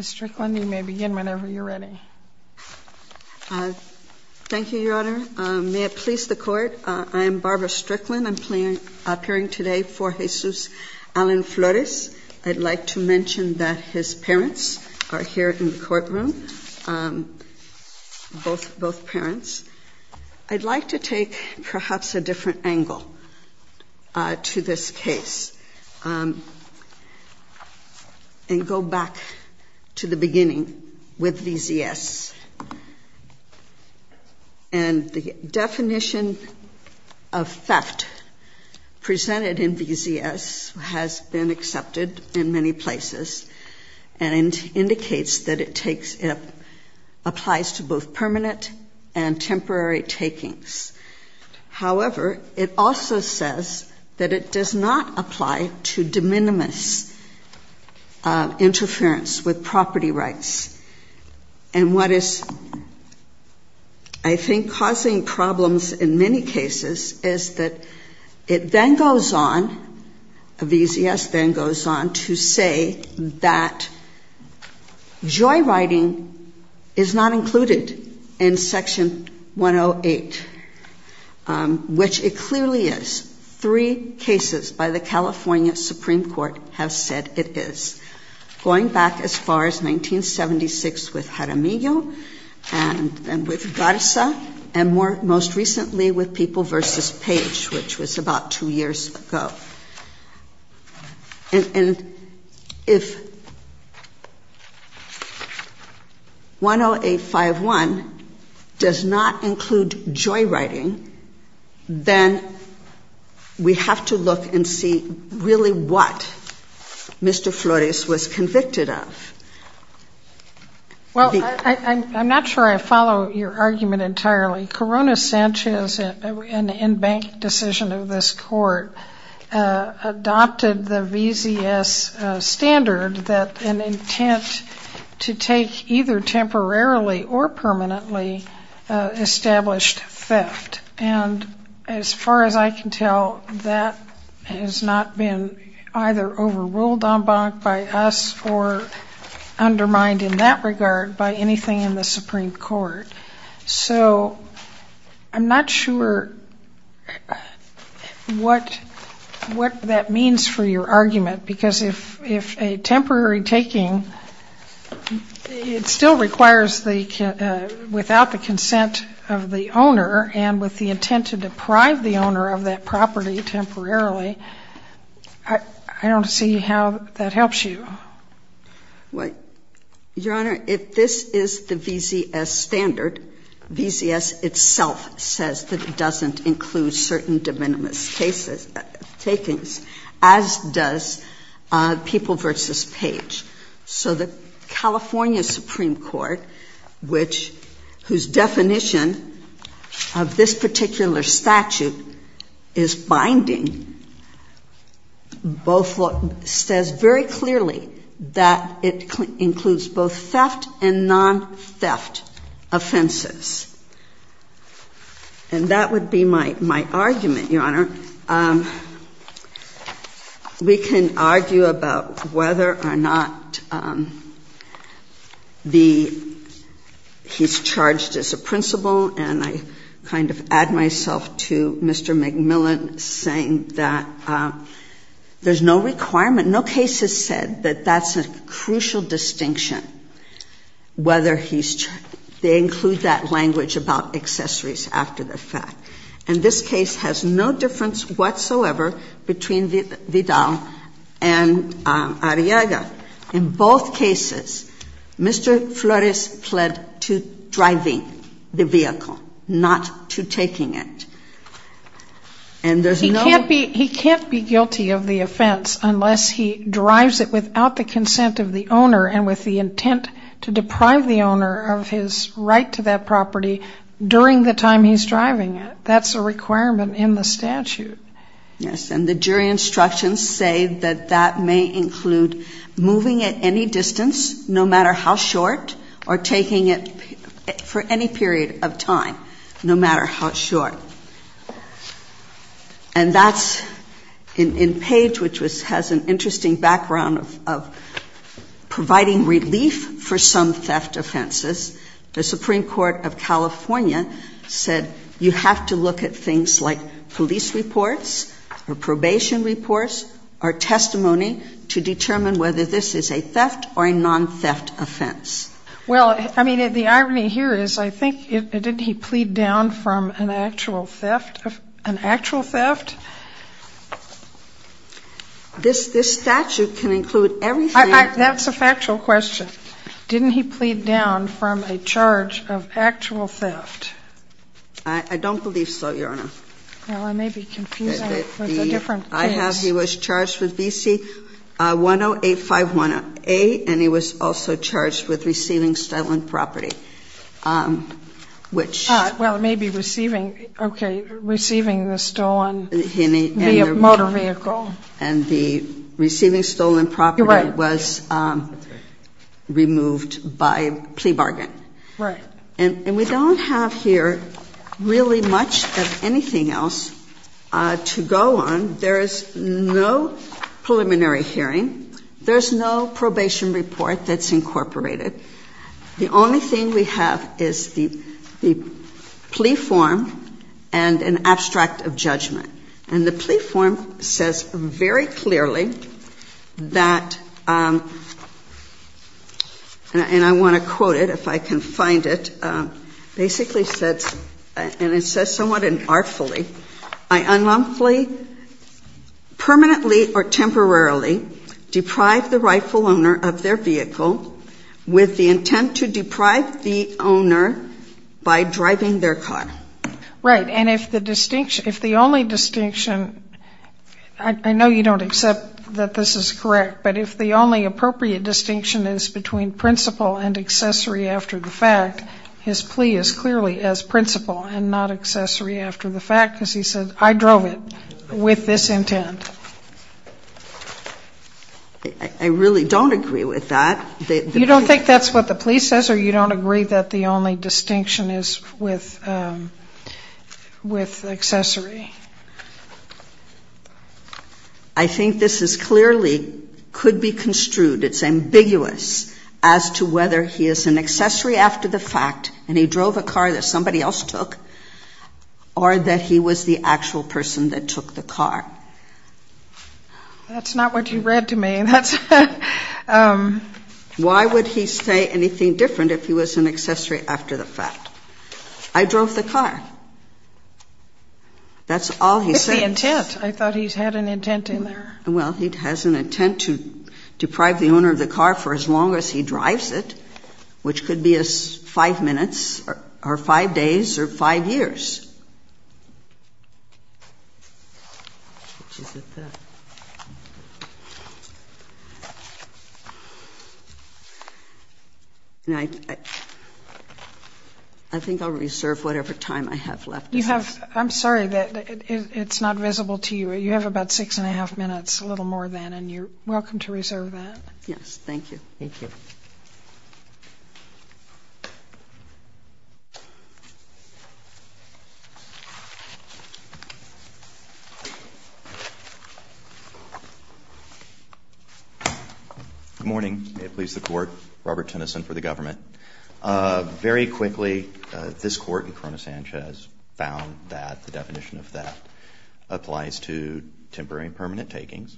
Strickland, you may begin whenever you're ready. Thank you, Your Honor. May it please the Court, I'm Barbara Strickland. I'm appearing today for Jesus Allen Flores. I'd like to mention that his parents are here in the courtroom, both parents. I'd like to take perhaps a different angle to this case and go back to the beginning with VZS. And the definition of theft presented in VZS has been accepted in many places and indicates that it applies to both permanent and temporary takings. However, it also says that it does not apply to de minimis interference with property rights. And what is, I think, causing problems in many cases is that it then goes on, VZS then goes on to say that joyriding is not included in Section 108, which it clearly is. Three cases by the California and most recently with People v. Page, which was about two years ago. And if 10851 does not include joyriding, then we have to look and see really what Mr. Flores was convicted of. Well, I'm not sure I follow your argument entirely. Corona Sanchez, an in-bank decision of this Court, adopted the VZS standard that an intent to take either temporarily or permanently established theft. And as far as I can tell, that has not been either overruled en banc by us or undermined in that regard by anything in the Supreme Court. So I'm not sure what that means for your argument, because if a temporary taking, it still requires without the consent of the owner and with the intent to deprive the owner of that property temporarily, I don't see how that helps you. Your Honor, if this is the VZS standard, VZS itself says that it doesn't include certain de minimis cases, takings, as does People v. Page. So the California Supreme Court, which, whose definition of this particular statute is binding, says very clearly that it includes both theft and non-theft offenses. And that would be my argument, Your Honor. We can argue about whether or not he's charged as a principal, and I kind of add myself to Mr. McMillan saying that there's no requirement, no case has said that that's a crucial distinction, whether he's charged. They include that language about accessories after the fact. And this case has no difference whatsoever between Vidal and Arriaga. In both cases, Mr. Flores pled to driving the vehicle, not to taking it. And there's no... He can't be guilty of the offense unless he drives it without the consent of the owner and with the intent to deprive the owner of his right to that property during the time he's driving it. That's a requirement in the statute. Yes, and the jury instructions say that that may include moving at any distance, no matter how short, or taking it for any period of time, no matter how short. And that's... In Page, which has an interesting background of providing relief for some theft offenses, the Supreme Court of California said you have to look at things like police reports or probation reports or testimony to determine whether this is a theft or a non-theft offense. Well, I mean, the irony here is, I think, didn't he plead down from an actual theft? This statute can include everything. That's a factual question. Didn't he plead down from a charge of actual theft? I don't believe so, Your Honor. Well, I may be confusing it with a different case. I have... He was charged with BC-10851A, and he was also charged with receiving stolen property, which... Well, maybe receiving... Okay, receiving the stolen motor vehicle. And the receiving stolen property was removed by plea bargain. Right. And we don't have here really much of anything else to go on. There is no preliminary hearing. There's no probation report that's incorporated. The only thing we have is the plea form and an abstract of judgment. And the plea form says very clearly that... And I want to quote it, if I can find it. Basically says... And it says somewhat artfully, I unlawfully, permanently, or temporarily deprive the rightful owner of their vehicle with the intent to deprive the owner by driving their car. Right. And if the distinction... If the only distinction... I know you don't accept that this is correct, but if the only appropriate distinction is between principle and accessory after the fact, his plea is clearly as principle and not accessory after the fact, because he said, I drove it with this intent. I really don't agree with that. You don't think that's what the plea says, or you don't agree that the only distinction is with accessory? I think this is clearly, could be construed, it's ambiguous as to whether he is an accessory after the fact, and he drove a car that somebody else took, or that he was the actual person that took the car. That's not what you read to me. That's... Why would he say anything different if he was an accessory after the fact? I drove the car. That's all he said. With the intent. I thought he had an intent in there. Well, he has an intent to deprive the owner of the car for as long as he drives it, which could be as five minutes or five days or five years. I think I'll reserve whatever time I have left. You have, I'm sorry, that it's not visible to you. You have about six and a half minutes, a little more than, and you're welcome to reserve that. Yes, thank you. Thank you. I'm sorry, I'm not sure if I have the time. Good morning. May it please the court. Robert Tennyson for the government. Very quickly, this court in Corona-Sanchez found that the definition of theft applies to temporary and permanent takings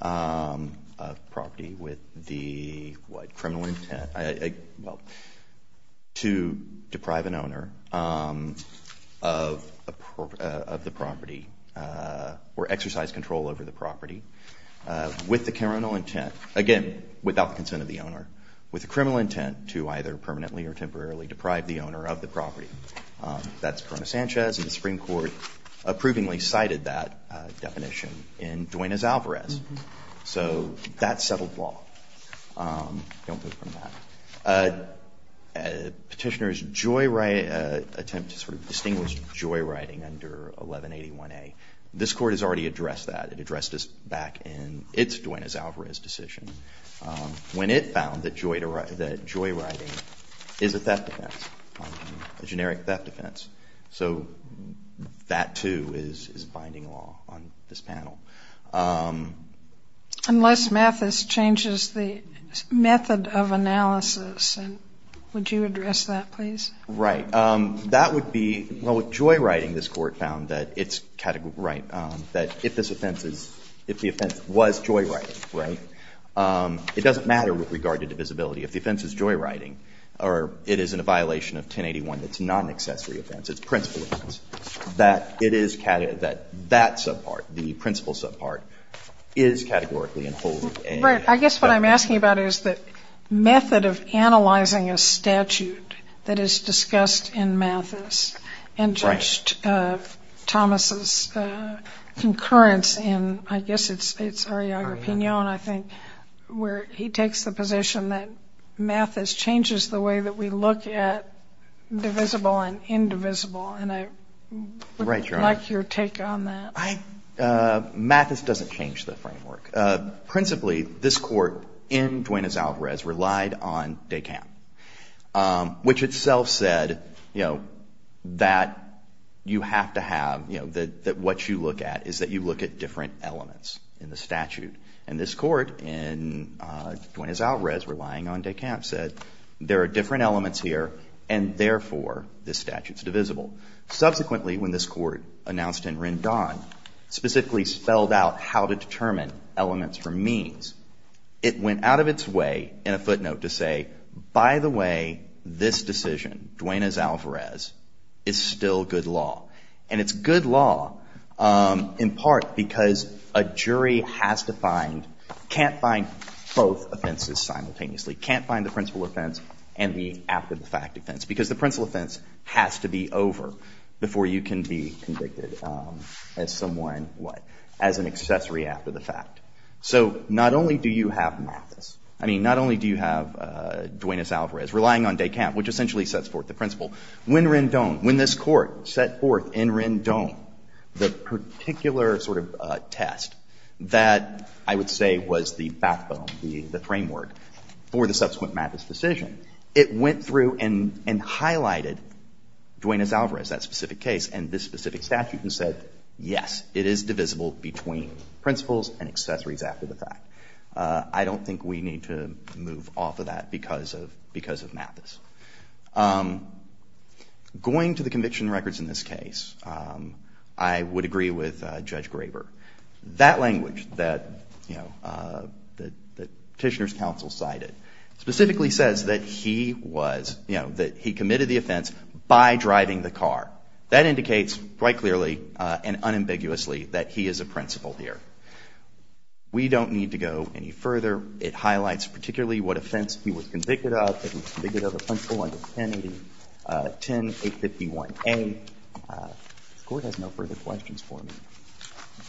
of property with the criminal intent, well, to deprive an owner of the property or exercise control over the property with the criminal intent, again, without the consent of the owner, with the criminal intent to either permanently or temporarily deprive the owner of the property. That's Corona-Sanchez. And the Supreme Court approvingly cited that definition in Duenas-Alvarez. So that's settled law. Don't go from that. A petitioner's joy attempt to sort of distinguish joyriding under 1181A. This court has already addressed that. It addressed this back in its Duenas-Alvarez decision when it found that joyriding is a theft offense, a generic theft offense. So that, too, is binding law on this panel. Unless Mathis changes the method of analysis. And would you address that, please? Right. That would be, well, with joyriding, this court found that it's categorical, right, that if this offense is, if the offense was joyriding, right, it doesn't matter with regard to divisibility. If the offense is joyriding or it is in a violation of 1081, that's not an accessory offense. It's principal offense. That it is, that that subpart, the principal subpart, is categorically enfolded. Right. I guess what I'm asking about is the method of analyzing a statute that is discussed in Mathis and Judge Thomas's concurrence in, I guess it's Ariaga-Pinon, I think, where he takes the position that Mathis changes the way that we look at divisible and indivisible. And I would like your take on that. I, Mathis doesn't change the framework. Principally, this court in Duenas-Alvarez relied on DECAM, which itself said, you know, that you have to have, you know, that what you look at is that you look at different elements in the statute. And this court in Duenas-Alvarez, relying on DECAM, said there are different elements here and, therefore, this statute's divisible. Subsequently, when this court announced in Rendon, specifically spelled out how to determine elements from means, it went out of its way in a footnote to say, by the way, this decision, Duenas-Alvarez, is still good law. And it's good law in part because a jury has to find, can't find both offenses simultaneously, can't find the principal offense and the after-the-fact offense. Because the principal offense has to be over before you can be convicted as someone, what, as an accessory after the fact. So not only do you have Mathis, I mean, not only do you have Duenas-Alvarez, relying on DECAM, which essentially sets forth the principle. When Rendon, when this court set forth in Rendon the particular sort of test that I would say was the backbone, the framework, for the subsequent Mathis decision, it went through and highlighted Duenas-Alvarez, that specific case, and this specific statute and said, yes, it is divisible between principals and accessories after the fact. I don't think we need to move off of that because of Mathis. Going to the conviction records in this case, I would agree with Judge Graber. That language that, you know, that Petitioner's counsel cited specifically says that he was, you know, that he committed the offense by driving the car. That indicates quite clearly and unambiguously that he is a principal here. We don't need to go any further. It highlights particularly what offense he was convicted of. He was convicted of a principle under 10851A. If the Court has no further questions for me,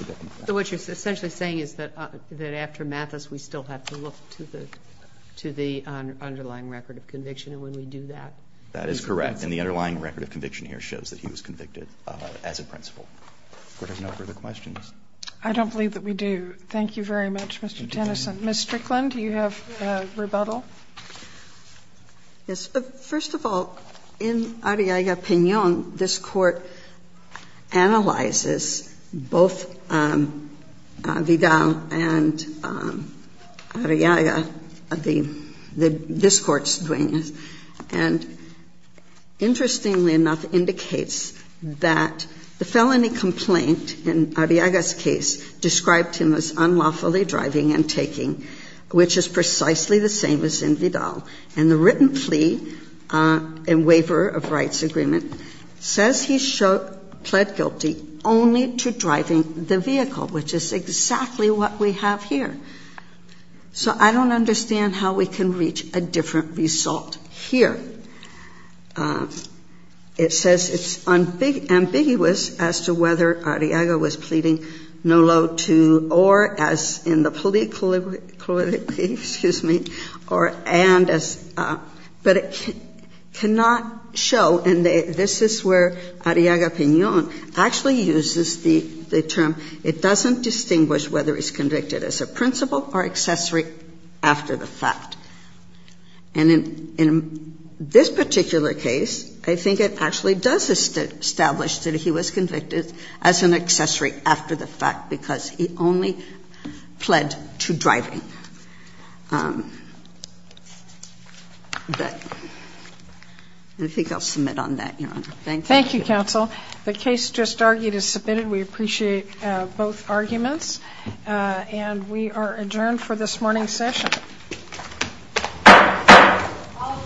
I'll get them back. So what you're essentially saying is that after Mathis, we still have to look to the underlying record of conviction, and when we do that, he's a principal? That is correct. And the underlying record of conviction here shows that he was convicted as a principal. If the Court has no further questions. I don't believe that we do. Thank you very much, Mr. Tennyson. Ms. Strickland, do you have rebuttal? Yes. First of all, in Arriaga-Piñon, this Court analyzes both Vidal and Arriaga, the — this Court's doing, and interestingly enough, indicates that the felony complaint in Arriaga's case described him as unlawfully driving and taking, which is precisely the same as in Vidal, and the written plea and waiver of rights agreement says he pled guilty only to driving the vehicle, which is exactly what we have here. So I don't understand how we can reach a different result here. It says it's ambiguous as to whether Arriaga was pleading no law to or, as in the plea, excuse me, or and as — but it cannot show, and this is where Arriaga-Piñon actually uses the term, it doesn't distinguish whether he's convicted as a principal or accessory after the fact. And in this particular case, I think it actually does establish that he was convicted as an accessory after the fact, because he only pled to driving. But I think I'll submit on that, Your Honor. Thank you. Thank you, counsel. The case just argued is submitted. We appreciate both arguments, and we are adjourned for this morning's session. All rise.